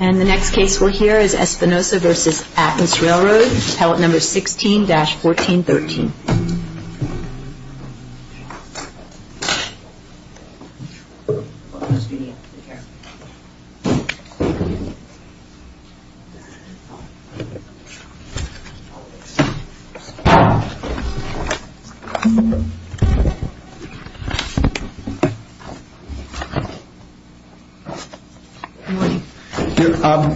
And the next case we'll hear is Espinoza v. Atlas Railroad, Pellet No. 16-1413.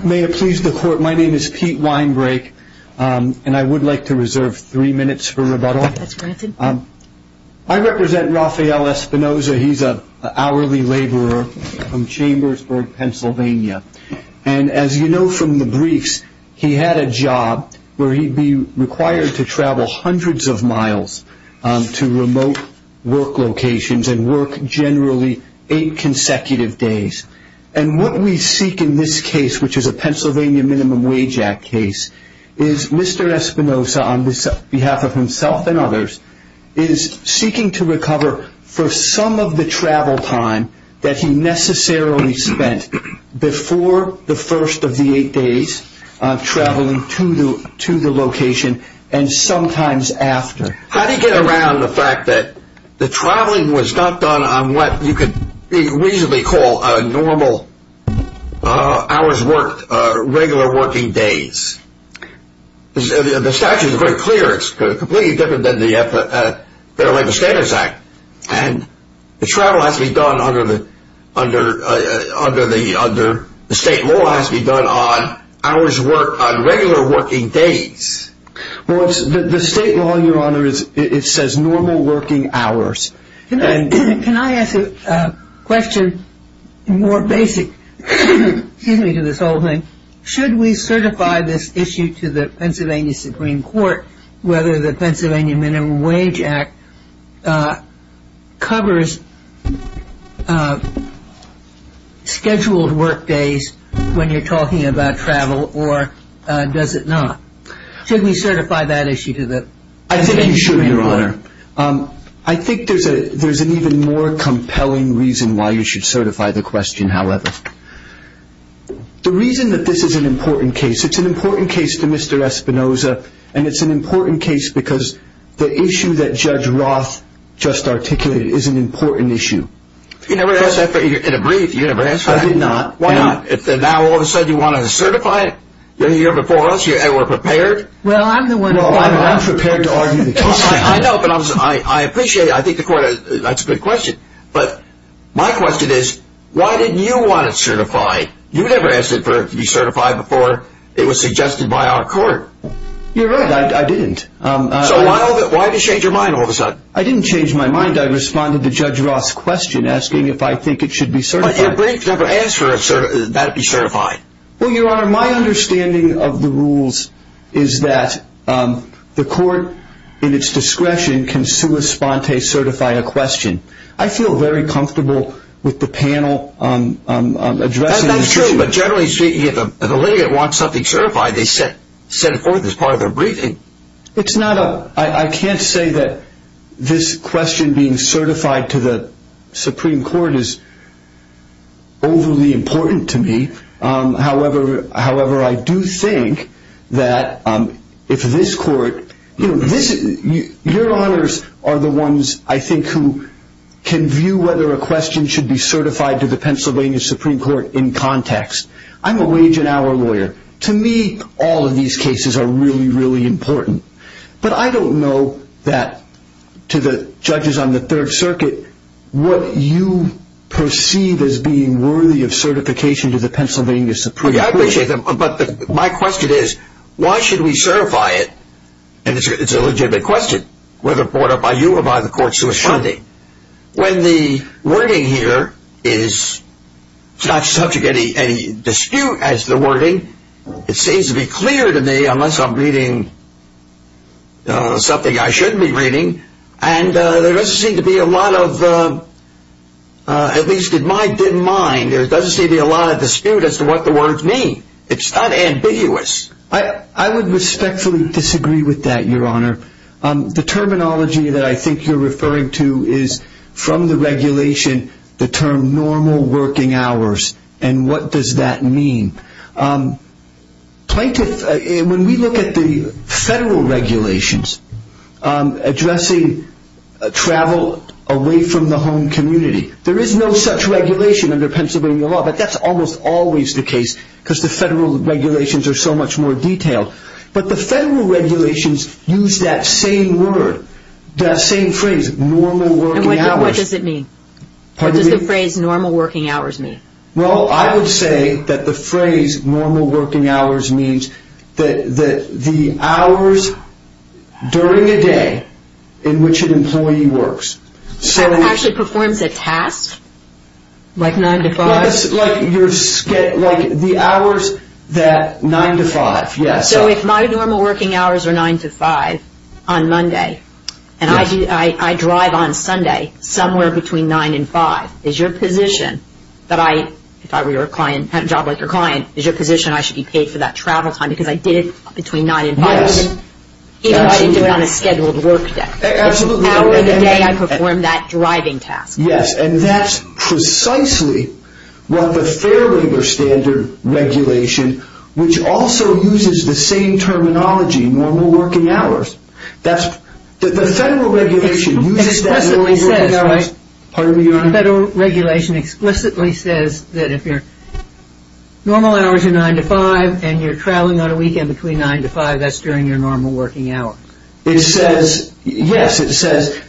May it please the court, my name is Pete Weinbrake and I would like to reserve three minutes for rebuttal. I represent Rafael Espinoza, he's an hourly laborer from Chambersburg, Pennsylvania. And as you know from the briefs, he had a job where he'd be required to travel hundreds of miles to remote work locations and work generally eight consecutive days. And what we seek in this case, which is a Pennsylvania Minimum Wage Act case, is Mr. Espinoza, on behalf of himself and others, is seeking to recover for some of the travel time that he necessarily spent before the first of the eight days traveling to the location and sometimes after. How do you get around the fact that the traveling was not done on what you could reasonably call normal hours worked, regular working days? The statute is very clear, it's completely different than the Fair Labor Standards Act. And the travel has to be done under the state law has to be done on hours worked on regular working days. Well, the state law, Your Honor, it says normal working hours. Can I ask a question more basic, excuse me, to this whole thing? Should we certify this issue to the Pennsylvania Supreme Court, whether the Pennsylvania Minimum Wage Act covers scheduled work days when you're talking about travel or does it not? Should we certify that issue to the Pennsylvania Supreme Court? I think we should, Your Honor. I think there's an even more compelling reason why you should certify the question, however. The reason that this is an important case, it's an important case to Mr. Espinoza, and it's an important case because the issue that Judge Roth just articulated is an important issue. You never asked that in a brief, you never asked that. I did not. Why not? Now all of a sudden you want to certify it? You're here before us and we're prepared? Well, I'm the one who's prepared to argue the case. I know, but I appreciate it. I think the court, that's a good question. But my question is, why didn't you want it certified? You never asked it to be certified before it was suggested by our court. You're right, I didn't. So why did you change your mind all of a sudden? I didn't change my mind. I responded to Judge Roth's question asking if I think it should be certified. But your brief never asked that it be certified. Well, Your Honor, my understanding of the rules is that the court, in its discretion, can sua sponte certify a question. I feel very comfortable with the panel addressing this issue. That's true, but generally speaking, if the litigant wants something certified, they set it forth as part of their briefing. I can't say that this question being certified to the Supreme Court is overly important to me. However, I do think that if this court, you know, your honors are the ones, I think, who can view whether a question should be certified to the Pennsylvania Supreme Court in context. I'm a wage and hour lawyer. To me, all of these cases are really, really important. But I don't know that, to the judges on the Third Circuit, what you perceive as being worthy of certification to the Pennsylvania Supreme Court. I appreciate that, but my question is, why should we certify it? And it's a legitimate question, whether brought up by you or by the courts who are funding. When the wording here is not subject to any dispute as the wording, it seems to be clear to me, unless I'm reading something I shouldn't be reading, and there doesn't seem to be a lot of, at least in my mind, there doesn't seem to be a lot of dispute as to what the words mean. It's not ambiguous. I would respectfully disagree with that, your honor. The terminology that I think you're referring to is, from the regulation, the term normal working hours. And what does that mean? When we look at the federal regulations addressing travel away from the home community, there is no such regulation under Pennsylvania law, but that's almost always the case, because the federal regulations are so much more detailed. But the federal regulations use that same word, that same phrase, normal working hours. And what does it mean? What does the phrase normal working hours mean? Well, I would say that the phrase normal working hours means that the hours during a day in which an employee works. So it actually performs a task? Like 9 to 5? Like the hours that, 9 to 5, yes. So if my normal working hours are 9 to 5 on Monday, and I drive on Sunday somewhere between 9 and 5, is your position that I, if I were your client, had a job like your client, is your position I should be paid for that travel time because I did it between 9 and 5? Yes. Even if I didn't do it on a scheduled work day? Absolutely. Hour of the day I perform that driving task. Yes, and that's precisely what the fair labor standard regulation, which also uses the same terminology, normal working hours. The federal regulation uses that normal working hours. The federal regulation explicitly says that if your normal hours are 9 to 5, and you're traveling on a weekend between 9 to 5, that's during your normal working hour. It says, yes, it says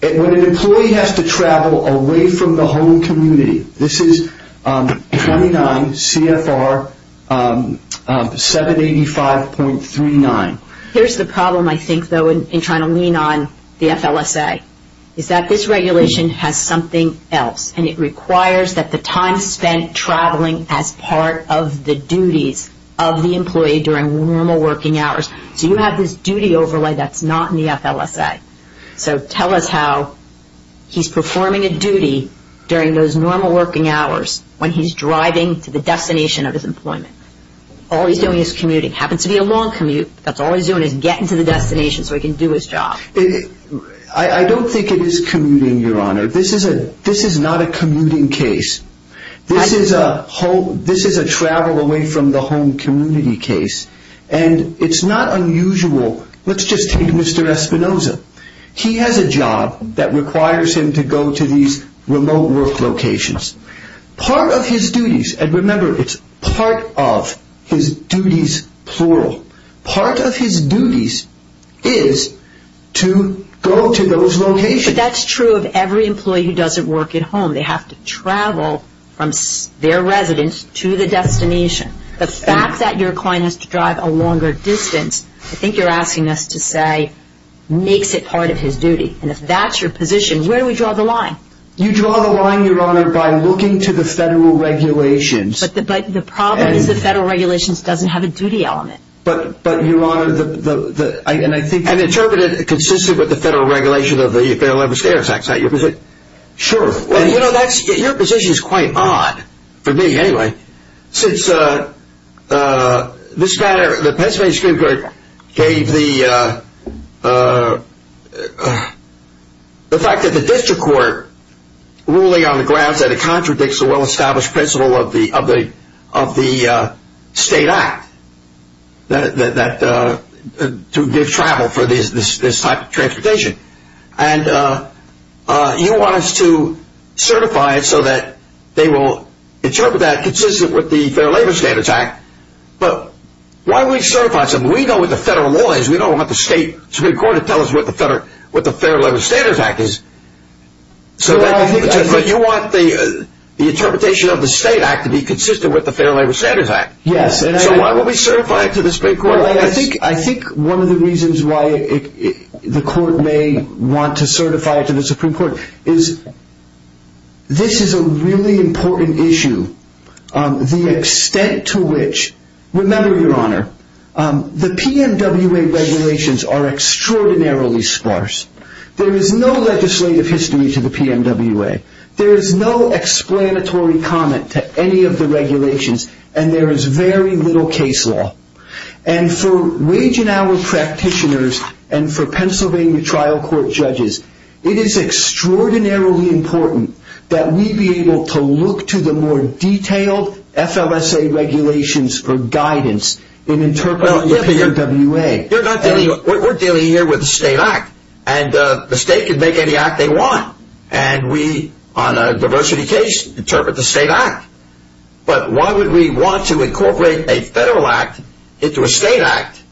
when an employee has to travel away from the home community, this is 29 CFR 785.39. Here's the problem, I think, though, in trying to lean on the FLSA, is that this regulation has something else, and it requires that the time spent traveling as part of the duties of the employee during normal working hours. So you have this duty overlay that's not in the FLSA. So tell us how he's performing a duty during those normal working hours when he's driving to the destination of his employment. All he's doing is commuting. It happens to be a long commute, but all he's doing is getting to the destination so he can do his job. I don't think it is commuting, Your Honor. This is not a commuting case. This is a travel away from the home community case. And it's not unusual. Let's just take Mr. Espinoza. He has a job that requires him to go to these remote work locations. Part of his duties, and remember, it's part of his duties, plural. Part of his duties is to go to those locations. But that's true of every employee who doesn't work at home. They have to travel from their residence to the destination. The fact that your client has to drive a longer distance, I think you're asking us to say makes it part of his duty. And if that's your position, where do we draw the line? You draw the line, Your Honor, by looking to the federal regulations. But the problem is the federal regulations doesn't have a duty element. But, Your Honor, and I think... And interpret it consistent with the federal regulation of the Federal Labor Standards Act. Is that your position? Sure. Your position is quite odd, for me anyway, since the Pennsylvania Supreme Court gave the fact that the district court ruling on the grounds that it contradicts the well-established principle of the state act to give travel for this type of transportation. And you want us to certify it so that they will interpret that consistent with the Federal Labor Standards Act. But why would we certify something? We know what the federal law is. We don't want the state Supreme Court to tell us what the Federal Labor Standards Act is. But you want the interpretation of the state act to be consistent with the Federal Labor Standards Act. Yes. So why would we certify it to the Supreme Court? I think one of the reasons why the court may want to certify it to the Supreme Court is this is a really important issue. The extent to which... Remember, Your Honor, the PMWA regulations are extraordinarily sparse. There is no legislative history to the PMWA. There is no explanatory comment to any of the regulations. And there is very little case law. And for Wage and Hour practitioners and for Pennsylvania trial court judges, it is extraordinarily important that we be able to look to the more detailed FLSA regulations for guidance in interpreting the PMWA. We're dealing here with the state act. And the state can make any act they want. And we, on a diversity case, interpret the state act. But why would we want to incorporate a federal act into a state act?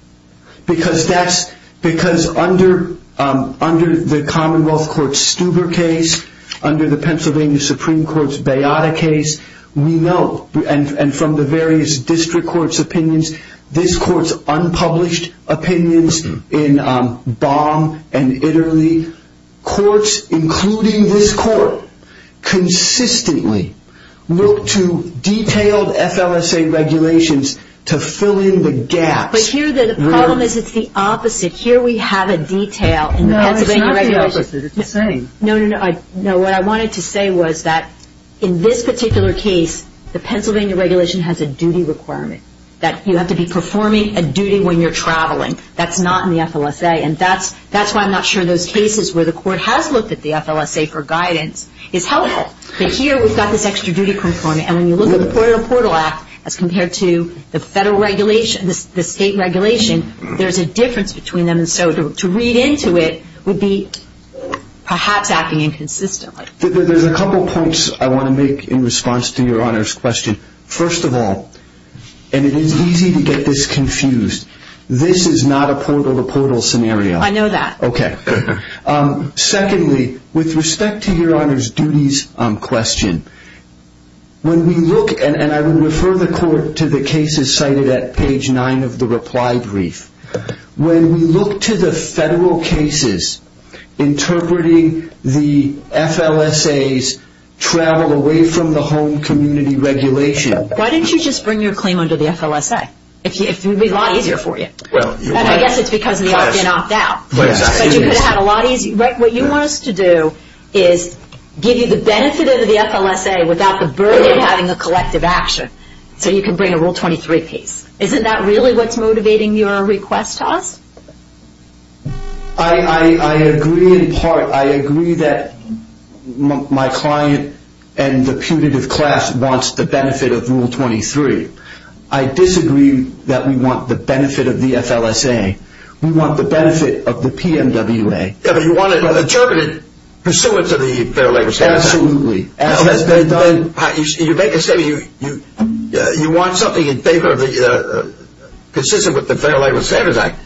Because that's... Because under the Commonwealth Court Stuber case, under the Pennsylvania Supreme Court's Beata case, we know, and from the various district courts' opinions, this court's unpublished opinions in Baum and Itterley, courts, including this court, consistently look to detailed FLSA regulations to fill in the gaps. But here the problem is it's the opposite. Here we have a detail in the Pennsylvania regulations. No, it's not the opposite. It's the same. No, no, no. What I wanted to say was that in this particular case, the Pennsylvania regulation has a duty requirement, that you have to be performing a duty when you're traveling. That's not in the FLSA. And that's why I'm not sure those cases where the court has looked at the FLSA for guidance is helpful. But here we've got this extra duty component. And when you look at the Portable Act as compared to the federal regulation, the state regulation, there's a difference between them. And so to read into it would be perhaps acting inconsistently. There's a couple points I want to make in response to Your Honor's question. First of all, and it is easy to get this confused, this is not a portal-to-portal scenario. I know that. Okay. Secondly, with respect to Your Honor's duties question, when we look, and I would refer the court to the cases cited at page 9 of the reply brief, when we look to the federal cases interpreting the FLSA's travel away from the home community regulation. Why don't you just bring your claim under the FLSA? It would be a lot easier for you. And I guess it's because the others can opt out. But you could have a lot easier. What you want us to do is give you the benefit of the FLSA without the burden of having a collective action. So you can bring a Rule 23 piece. Isn't that really what's motivating your request to us? I agree in part. I agree that my client and the putative class wants the benefit of Rule 23. I disagree. I disagree that we want the benefit of the FLSA. We want the benefit of the PMWA. Yeah, but you want it interpreted pursuant to the Fair Labor Standards Act. Absolutely. You make a statement, you want something in favor of the, consistent with the Fair Labor Standards Act.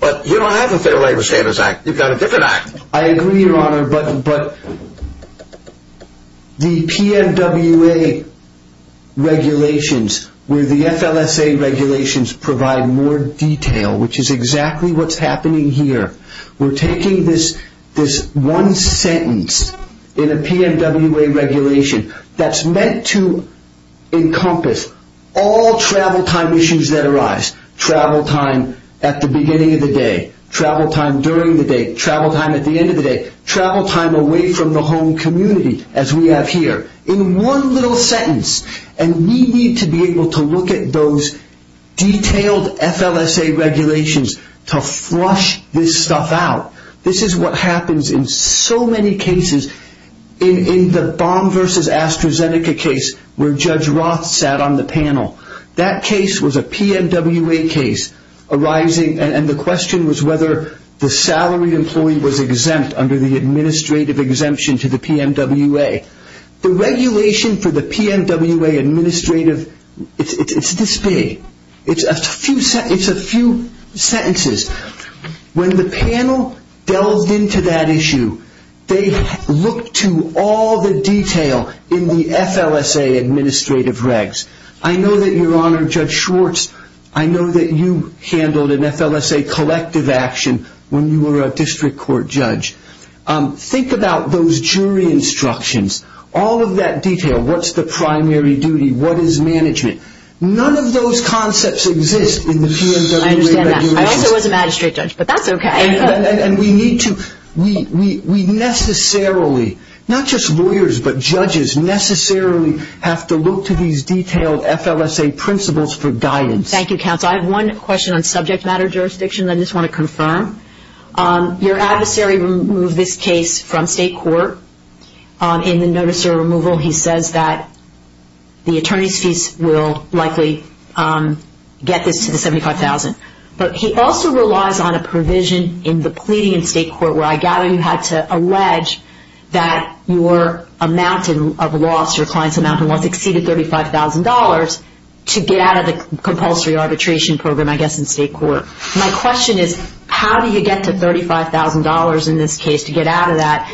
But you don't have the Fair Labor Standards Act. You've got a different act. I agree, Your Honor. But the PMWA regulations, where the FLSA regulations provide more detail, which is exactly what's happening here. We're taking this one sentence in a PMWA regulation that's meant to encompass all travel time issues that arise. Travel time at the beginning of the day. Travel time during the day. Travel time at the end of the day. Travel time away from the home community, as we have here. In one little sentence. And we need to be able to look at those detailed FLSA regulations to flush this stuff out. This is what happens in so many cases. In the Baum v. AstraZeneca case, where Judge Roth sat on the panel. That case was a PMWA case arising, and the question was whether the salaried employee was exempt under the administrative exemption to the PMWA. The regulation for the PMWA administrative, it's this big. It's a few sentences. When the panel delved into that issue, they looked to all the detail in the FLSA administrative regs. I know that, Your Honor, Judge Schwartz, I know that you handled an FLSA collective action when you were a district court judge. Think about those jury instructions. All of that detail. What's the primary duty? What is management? None of those concepts exist in the PMWA regulations. I understand that. I also was a magistrate judge, but that's okay. We necessarily, not just lawyers, but judges necessarily have to look to these detailed FLSA principles for guidance. Thank you, counsel. I have one question on subject matter jurisdiction that I just want to confirm. Your adversary removed this case from state court. In the notice of removal, he says that the attorney's fees will likely get this to the $75,000. But he also relies on a provision in the pleading in state court where I gather you had to allege that your amount of loss, your client's amount of loss exceeded $35,000 to get out of the compulsory arbitration program, I guess, in state court. My question is, how do you get to $35,000 in this case to get out of that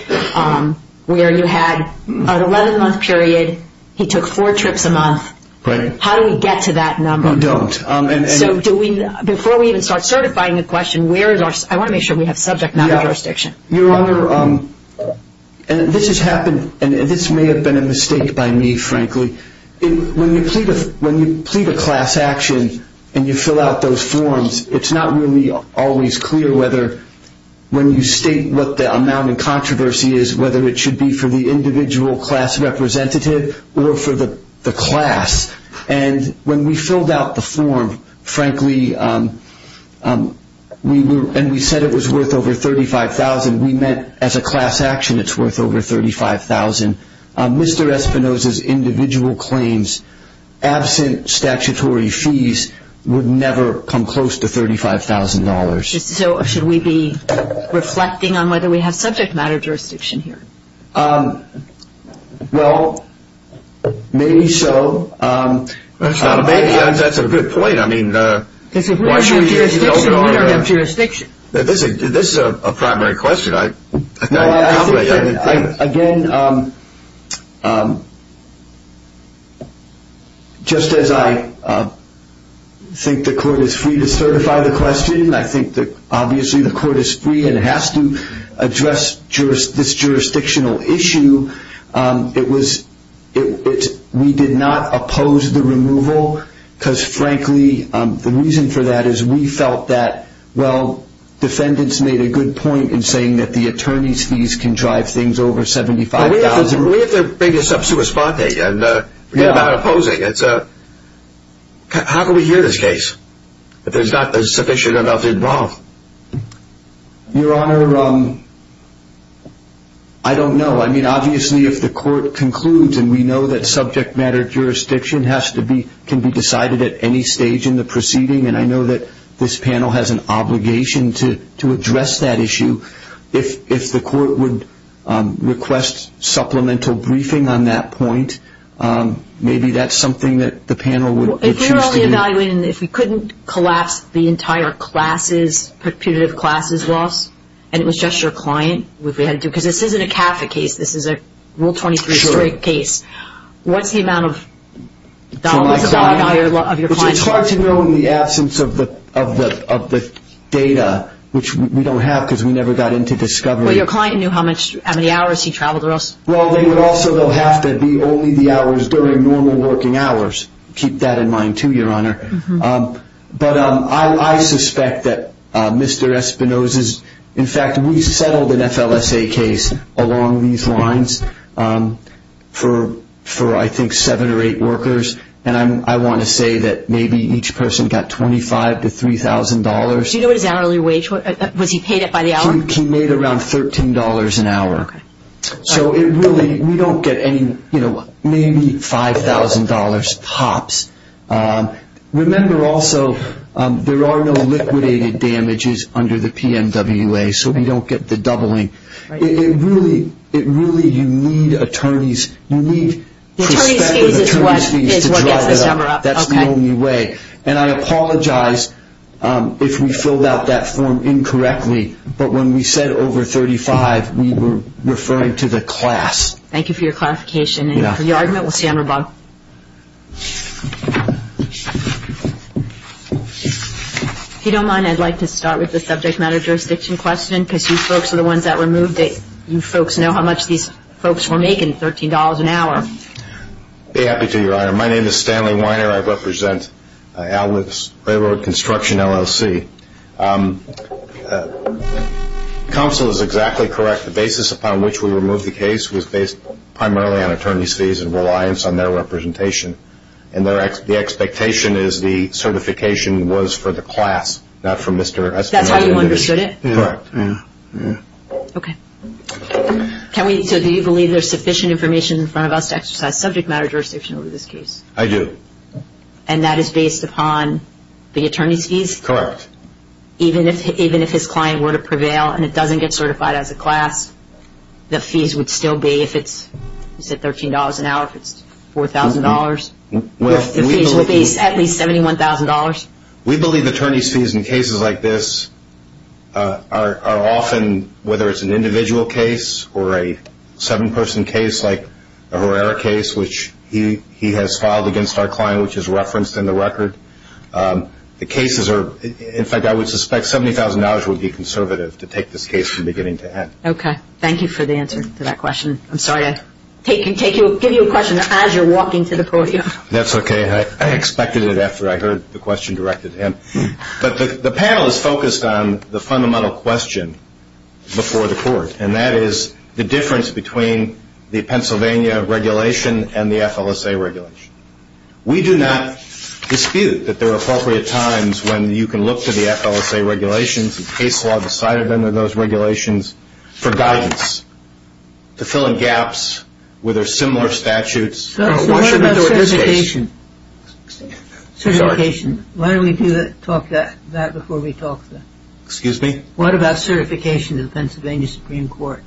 where you had an 11-month period, he took four trips a month? How do we get to that number? You don't. Before we even start certifying the question, I want to make sure we have subject matter jurisdiction. Your Honor, this has happened, and this may have been a mistake by me, frankly. When you plead a class action and you fill out those forms, it's not really always clear whether, when you state what the amount in controversy is, whether it should be for the individual class representative or for the class. And when we filled out the form, frankly, and we said it was worth over $35,000, we meant as a class action it's worth over $35,000. Mr. Espinoza's individual claims, absent statutory fees, would never come close to $35,000. So should we be reflecting on whether we have subject matter jurisdiction here? Well, maybe so. That's not a bad answer. That's a good point. I mean, why shouldn't you fill it out? This is a primary question. Again, just as I think the court is free to certify the question, I think obviously the court is free and has to address this jurisdictional issue. We did not oppose the removal because, frankly, the reason for that is we felt that, well, defendants made a good point in saying that the attorney's fees can drive things over $75,000. We have to bring this up to a spot and forget about opposing. How can we hear this case? There's not a sufficient amount involved. Your Honor, I don't know. I mean, obviously if the court concludes, and we know that subject matter jurisdiction can be decided at any stage in the proceeding, and I know that this panel has an obligation to address that issue, if the court would request supplemental briefing on that point, maybe that's something that the panel would choose to do. If we were only evaluating, if we couldn't collapse the entire classes, perpetuative classes loss, and it was just your client, because this isn't a CAFA case, this is a Rule 23 straight case, what's the amount of dollars of your client's loss? It's hard to know in the absence of the data, which we don't have because we never got into discovery. Well, your client knew how many hours he traveled or else. Well, they would also have to be only the hours during normal working hours. Keep that in mind too, your Honor. But I suspect that Mr. Espinoza's, in fact, we settled an FLSA case along these lines for I think seven or eight workers, and I want to say that maybe each person got $25,000 to $3,000. Do you know what his hourly wage was? Was he paid it by the hour? He made around $13 an hour. Okay. So it really, we don't get any, you know, maybe $5,000 hops. Remember also there are no liquidated damages under the PMWA, so we don't get the doubling. It really, you need attorneys, you need prospective attorneys to drive that up. That's the only way. And I apologize if we filled out that form incorrectly, but when we said over 35, we were referring to the class. Thank you for your clarification. And for your argument, we'll see on rebuttal. If you don't mind, I'd like to start with the subject matter jurisdiction question because you folks are the ones that removed it. You folks know how much these folks were making, $13 an hour. I'd be happy to, Your Honor. My name is Stanley Weiner. I represent Bay Road Construction, LLC. Counsel is exactly correct. The basis upon which we removed the case was based primarily on attorney's fees and reliance on their representation. And the expectation is the certification was for the class, not for Mr. Espinosa. That's how you understood it? Correct. Yeah. Okay. So do you believe there's sufficient information in front of us to exercise subject matter jurisdiction over this case? I do. And that is based upon the attorney's fees? Correct. Even if his client were to prevail and it doesn't get certified as a class, the fees would still be, if it's $13 an hour, if it's $4,000, the fees would be at least $71,000? We believe attorney's fees in cases like this are often, whether it's an individual case or a seven-person case like a Herrera case, which he has filed against our client, which is referenced in the record. The cases are, in fact, I would suspect $70,000 would be conservative to take this case from beginning to end. Okay. Thank you for the answer to that question. I'm sorry to give you a question as you're walking to the podium. That's okay. I expected it after I heard the question directed at him. But the panel is focused on the fundamental question before the court, and that is the difference between the Pennsylvania regulation and the FLSA regulation. We do not dispute that there are appropriate times when you can look to the FLSA regulations and case law decided under those regulations for guidance to fill in gaps where there are similar statutes. What about certification? Why don't we talk about that before we talk? Excuse me? What about certification to the Pennsylvania Supreme Court?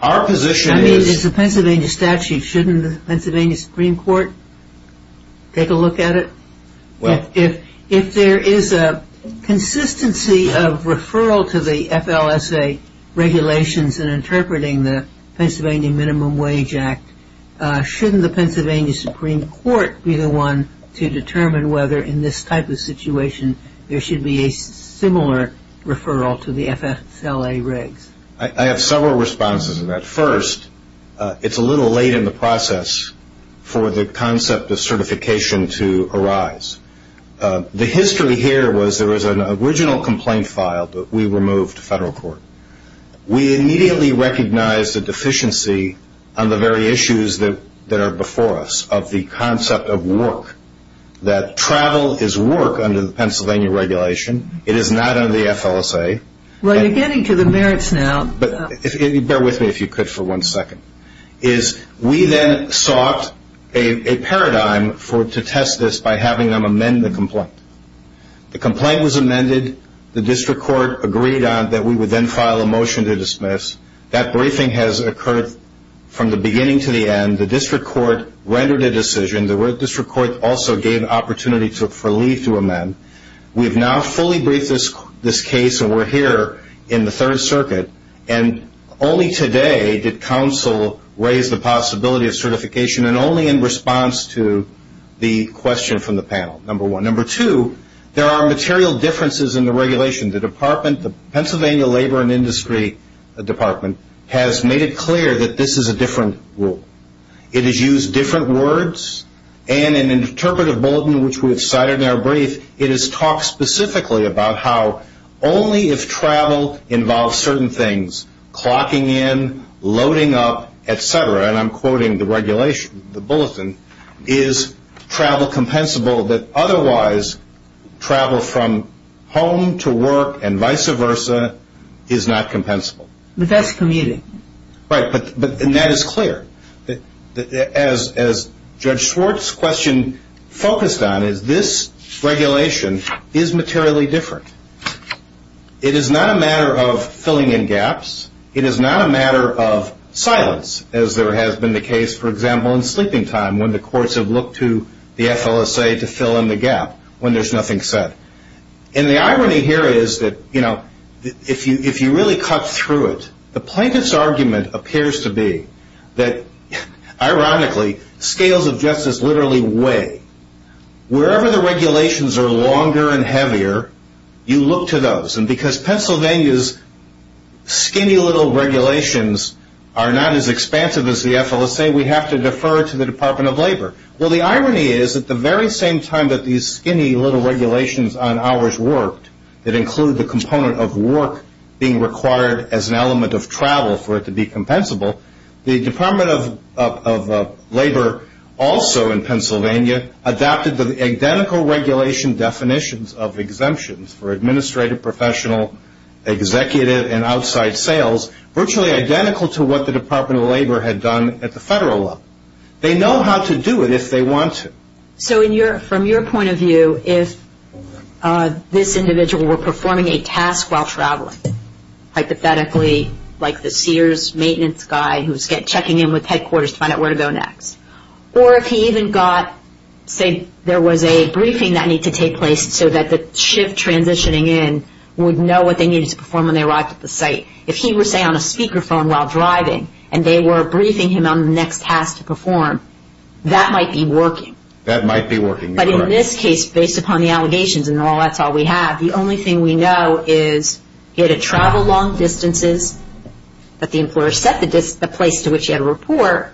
I mean, it's a Pennsylvania statute. Shouldn't the Pennsylvania Supreme Court take a look at it? If there is a consistency of referral to the FLSA regulations in interpreting the Pennsylvania Minimum Wage Act, shouldn't the Pennsylvania Supreme Court be the one to determine whether in this type of situation there should be a similar referral to the FSLA regs? I have several responses to that. First, it's a little late in the process for the concept of certification to arise. The history here was there was an original complaint filed, but we removed federal court. We immediately recognized the deficiency on the very issues that are before us of the concept of work, that travel is work under the Pennsylvania regulation. It is not under the FLSA. Well, you're getting to the merits now. Bear with me if you could for one second. We then sought a paradigm to test this by having them amend the complaint. The complaint was amended. The district court agreed that we would then file a motion to dismiss. That briefing has occurred from the beginning to the end. The district court rendered a decision. The district court also gave opportunity for leave to amend. We've now fully briefed this case, and we're here in the Third Circuit, and only today did counsel raise the possibility of certification and only in response to the question from the panel, number one. Number two, there are material differences in the regulation. The Pennsylvania Labor and Industry Department has made it clear that this is a different rule. It has used different words, and in an interpretive bulletin, which we have cited in our brief, it has talked specifically about how only if travel involves certain things, clocking in, loading up, et cetera, and I'm quoting the regulation, the bulletin, is travel compensable, that otherwise travel from home to work and vice versa is not compensable. But that's commuting. Right, and that is clear. As Judge Schwartz' question focused on, is this regulation is materially different. It is not a matter of filling in gaps. It is not a matter of silence, as there has been the case, for example, in sleeping time when the courts have looked to the FLSA to fill in the gap when there's nothing said. And the irony here is that, you know, if you really cut through it, the plaintiff's argument appears to be that, ironically, scales of justice literally weigh. Wherever the regulations are longer and heavier, you look to those, and because Pennsylvania's skinny little regulations are not as expansive as the FLSA, Well, the irony is at the very same time that these skinny little regulations on hours worked that include the component of work being required as an element of travel for it to be compensable, the Department of Labor also in Pennsylvania adopted the identical regulation definitions of exemptions for administrative, professional, executive, and outside sales, virtually identical to what the Department of Labor had done at the federal level. They know how to do it if they want to. So from your point of view, if this individual were performing a task while traveling, hypothetically, like the Sears maintenance guy who's checking in with headquarters to find out where to go next, or if he even got, say, there was a briefing that needed to take place so that the shift transitioning in would know what they needed to perform when they arrived at the site, if he were, say, on a speakerphone while driving and they were briefing him on the next task to perform, that might be working. That might be working. But in this case, based upon the allegations and all that's all we have, the only thing we know is he had to travel long distances, that the employer set the place to which he had to report,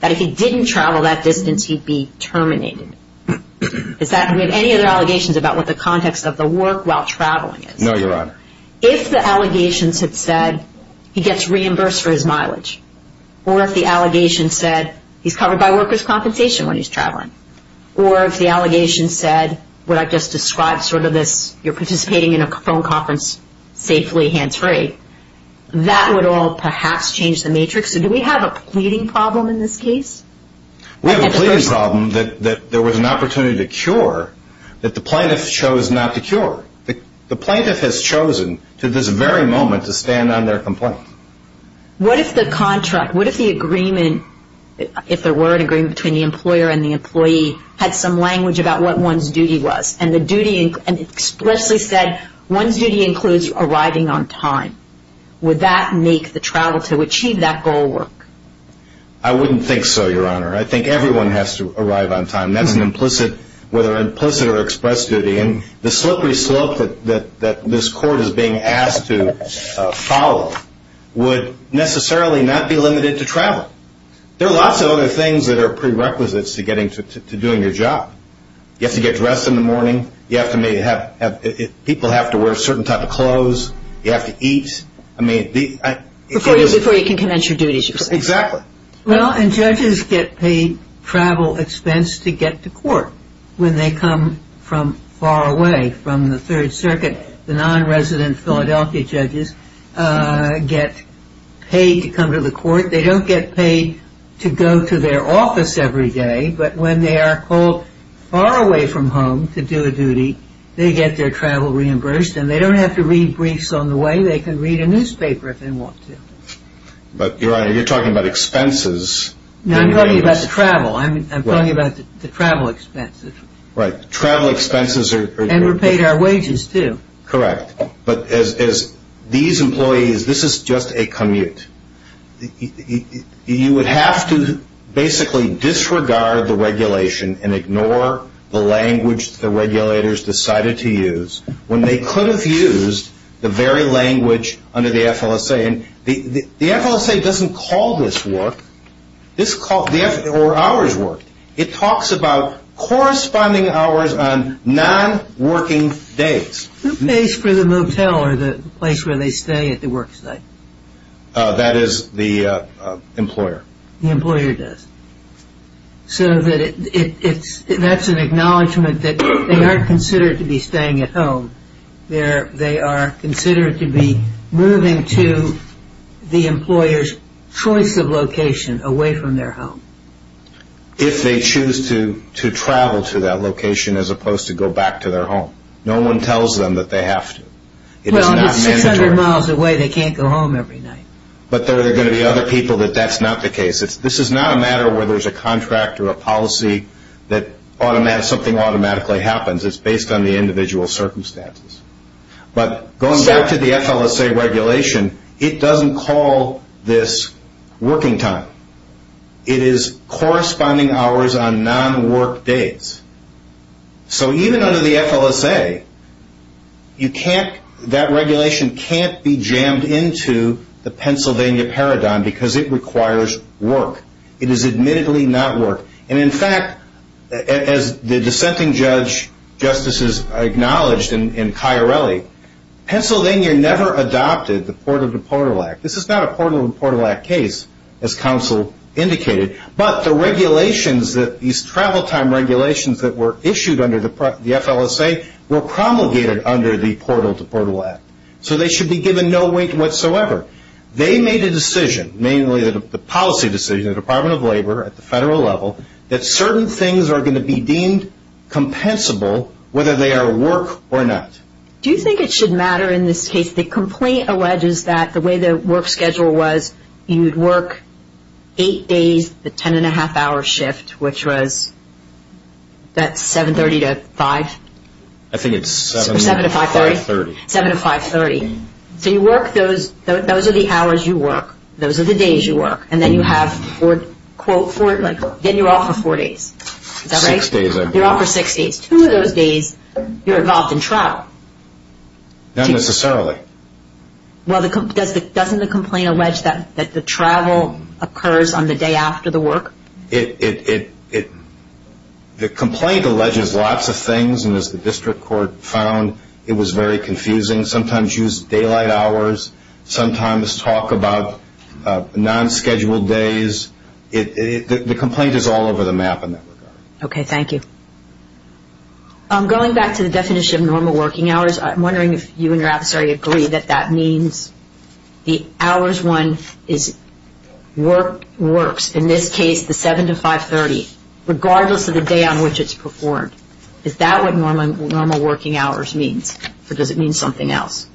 that if he didn't travel that distance, he'd be terminated. Is that, do we have any other allegations about what the context of the work while traveling is? No, Your Honor. If the allegations had said he gets reimbursed for his mileage, or if the allegation said he's covered by workers' compensation when he's traveling, or if the allegation said what I just described, sort of this, you're participating in a phone conference safely, hands-free, that would all perhaps change the matrix. Do we have a pleading problem in this case? We have a pleading problem that there was an opportunity to cure that the plaintiff chose not to cure. The plaintiff has chosen to this very moment to stand on their complaint. What if the contract, what if the agreement, if there were an agreement between the employer and the employee, had some language about what one's duty was, and expressly said one's duty includes arriving on time? Would that make the travel to achieve that goal work? I wouldn't think so, Your Honor. I think everyone has to arrive on time. That's an implicit, whether implicit or express duty. And the slippery slope that this court is being asked to follow would necessarily not be limited to travel. There are lots of other things that are prerequisites to doing your job. You have to get dressed in the morning. People have to wear a certain type of clothes. You have to eat. Before you can commence your duties, you're saying. Exactly. Well, and judges get paid travel expense to get to court when they come from far away from the Third Circuit. The nonresident Philadelphia judges get paid to come to the court. They don't get paid to go to their office every day, but when they are called far away from home to do a duty, they get their travel reimbursed, and they don't have to read briefs on the way. They can read a newspaper if they want to. But, Your Honor, you're talking about expenses. No, I'm talking about the travel. I'm talking about the travel expenses. Right. Travel expenses are... And we're paid our wages, too. Correct. But as these employees, this is just a commute. You would have to basically disregard the regulation and ignore the language the regulators decided to use when they could have used the very language under the FLSA. And the FLSA doesn't call this work or hours work. It talks about corresponding hours on nonworking days. Who pays for the motel or the place where they stay at the work site? That is the employer. The employer does. So that's an acknowledgement that they are considered to be staying at home. They are considered to be moving to the employer's choice of location away from their home. If they choose to travel to that location as opposed to go back to their home. No one tells them that they have to. Well, if it's 600 miles away, they can't go home every night. But there are going to be other people that that's not the case. This is not a matter where there's a contract or a policy that something automatically happens. It's based on the individual circumstances. But going back to the FLSA regulation, it doesn't call this working time. It is corresponding hours on nonwork days. So even under the FLSA, that regulation can't be jammed into the Pennsylvania paradigm because it requires work. It is admittedly not work. And, in fact, as the dissenting judge justices acknowledged in Chiarelli, Pennsylvania never adopted the Portal to Portal Act. This is not a Portal to Portal Act case, as counsel indicated. But the regulations that these travel time regulations that were issued under the FLSA were promulgated under the Portal to Portal Act. So they should be given no weight whatsoever. They made a decision, mainly the policy decision of the Department of Labor at the federal level, that certain things are going to be deemed compensable whether they are work or not. Do you think it should matter in this case? The complaint alleges that the way the work schedule was you'd work eight days, the ten-and-a-half-hour shift, which was that's 730 to 5? I think it's 7 to 530. 7 to 530. So you work those. Those are the hours you work. Those are the days you work. And then you have, quote, then you're off for four days. Is that right? Six days, I believe. You're off for six days. Two of those days you're involved in travel. Not necessarily. Well, doesn't the complaint allege that the travel occurs on the day after the work? The complaint alleges lots of things. And, as the district court found, it was very confusing. Sometimes you use daylight hours. Sometimes talk about non-scheduled days. The complaint is all over the map in that regard. Okay. Thank you. Going back to the definition of normal working hours, I'm wondering if you and your adversary agree that that means the hours one works, in this case the 7 to 530, regardless of the day on which it's performed. Is that what normal working hours means? Or does it mean something else?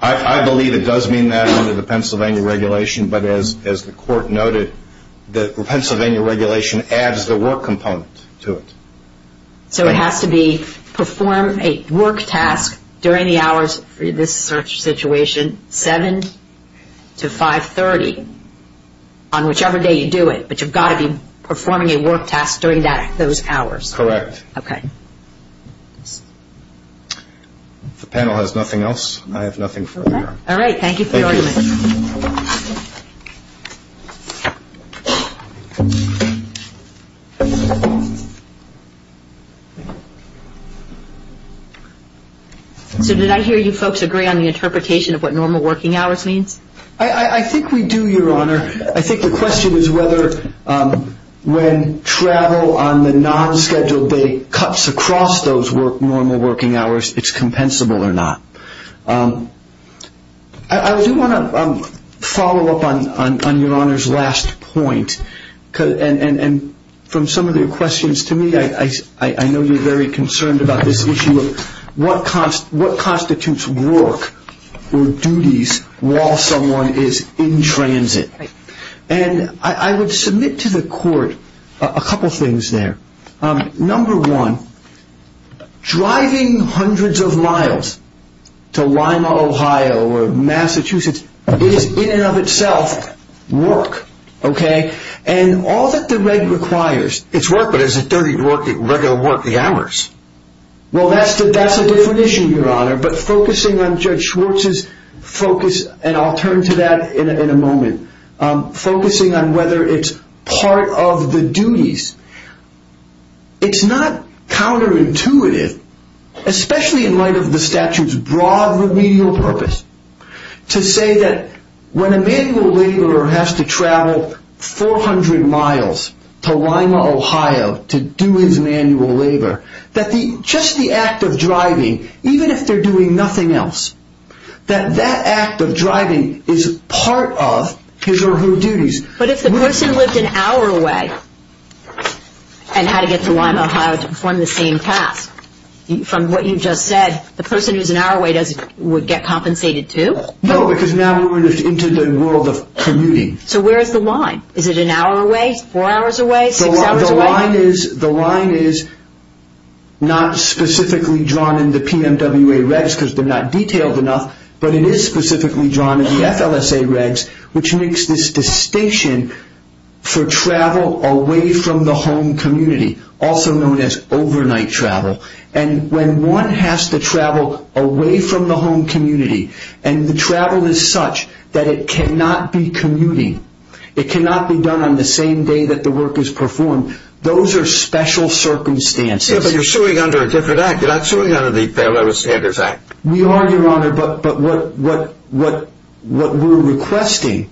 I believe it does mean that under the Pennsylvania regulation. But, as the court noted, the Pennsylvania regulation adds the work component to it. So it has to be perform a work task during the hours, for this situation, 7 to 530, on whichever day you do it. But you've got to be performing a work task during those hours. Correct. Okay. If the panel has nothing else, I have nothing further. All right. Thank you for your argument. So did I hear you folks agree on the interpretation of what normal working hours means? I think we do, Your Honor. I think the question is whether when travel on the non-scheduled day cuts across those normal working hours, it's compensable or not. I do want to follow up on Your Honor's last point. And from some of the questions to me, I know you're very concerned about this issue of what constitutes work or duties while someone is in transit. And I would submit to the court a couple things there. Number one, driving hundreds of miles to Lima, Ohio or Massachusetts is in and of itself work. Okay? And all that the reg requires. It's work, but is it really regular work, the hours? Well, that's a different issue, Your Honor. But focusing on Judge Schwartz's focus, and I'll turn to that in a moment, focusing on whether it's part of the duties, it's not counterintuitive, especially in light of the statute's broad remedial purpose, to say that when a manual laborer has to travel 400 miles to Lima, Ohio to do his manual labor, that just the act of driving, even if they're doing nothing else, that that act of driving is part of his or her duties. But if the person lived an hour away and had to get to Lima, Ohio to perform the same task, from what you just said, the person who's an hour away would get compensated too? No, because now we're into the world of commuting. So where is the line? The line is not specifically drawn in the PMWA regs because they're not detailed enough, but it is specifically drawn in the FLSA regs, which makes this distinction for travel away from the home community, also known as overnight travel. And when one has to travel away from the home community, and the travel is such that it cannot be commuting, it cannot be done on the same day that the work is performed, those are special circumstances. Yeah, but you're suing under a different act. You're not suing under the Federal Standards Act. We are, Your Honor, but what we're requesting,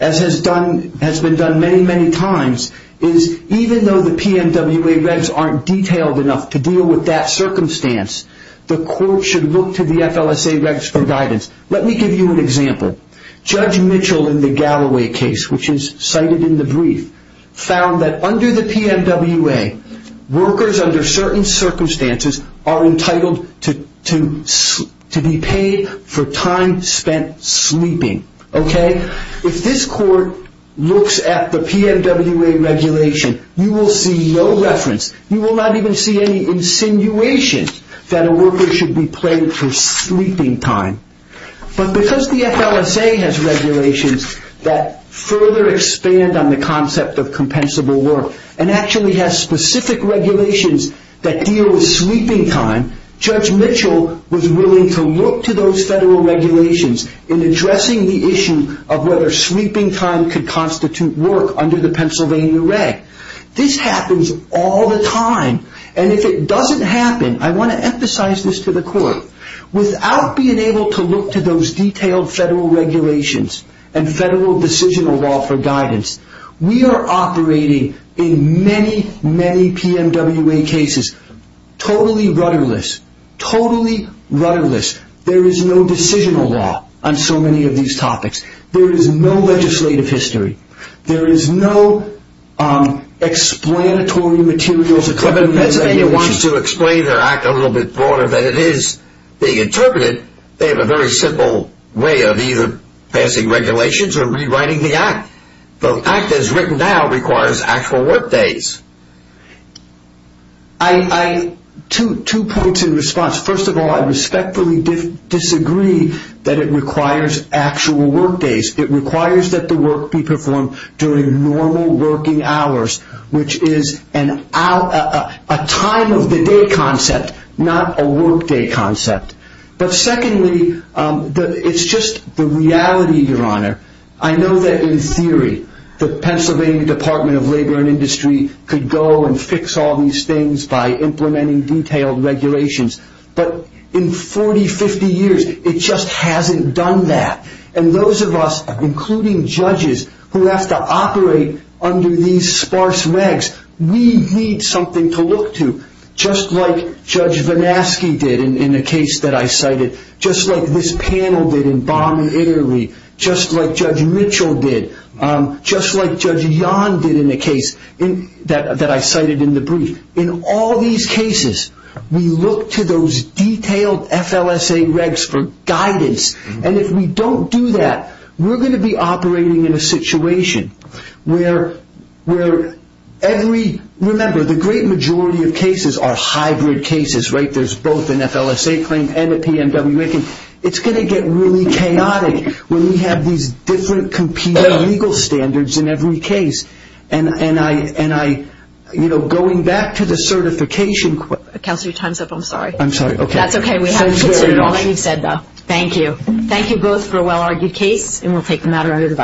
as has been done many, many times, is even though the PMWA regs aren't detailed enough to deal with that circumstance, the court should look to the FLSA regs for guidance. Let me give you an example. Judge Mitchell in the Galloway case, which is cited in the brief, found that under the PMWA, workers under certain circumstances are entitled to be paid for time spent sleeping. If this court looks at the PMWA regulation, you will see no reference. You will not even see any insinuation that a worker should be paid for sleeping time. But because the FLSA has regulations that further expand on the concept of compensable work and actually has specific regulations that deal with sleeping time, Judge Mitchell was willing to look to those federal regulations in addressing the issue of whether sleeping time could constitute work under the Pennsylvania Reg. This happens all the time. And if it doesn't happen, I want to emphasize this to the court, without being able to look to those detailed federal regulations and federal decisional law for guidance, we are operating in many, many PMWA cases totally rudderless. Totally rudderless. There is no decisional law on so many of these topics. There is no legislative history. There is no explanatory materials. If Pennsylvania wants to explain their act a little bit broader than it is being interpreted, they have a very simple way of either passing regulations or rewriting the act. The act as written now requires actual work days. Two points in response. First of all, I respectfully disagree that it requires actual work days. It requires that the work be performed during normal working hours, which is a time of the day concept, not a work day concept. But secondly, it's just the reality, Your Honor, I know that in theory the Pennsylvania Department of Labor and Industry could go and fix all these things by implementing detailed regulations. But in 40, 50 years, it just hasn't done that. And those of us, including judges, who have to operate under these sparse regs, we need something to look to, just like Judge Vanaski did in a case that I cited, just like this panel did in Baum and Airey, just like Judge Mitchell did, just like Judge Yon did in a case that I cited in the brief. In all these cases, we look to those detailed FLSA regs for guidance. And if we don't do that, we're going to be operating in a situation where every, remember, the great majority of cases are hybrid cases, right? There's both an FLSA claim and a PMW making. It's going to get really chaotic when we have these different competing legal standards in every case. And I, you know, going back to the certification. Counselor, your time's up. I'm sorry. I'm sorry. Okay. That's okay. We have to continue all that you've said, though. Thank you. Thank you both for a well-argued case, and we'll take the matter under division.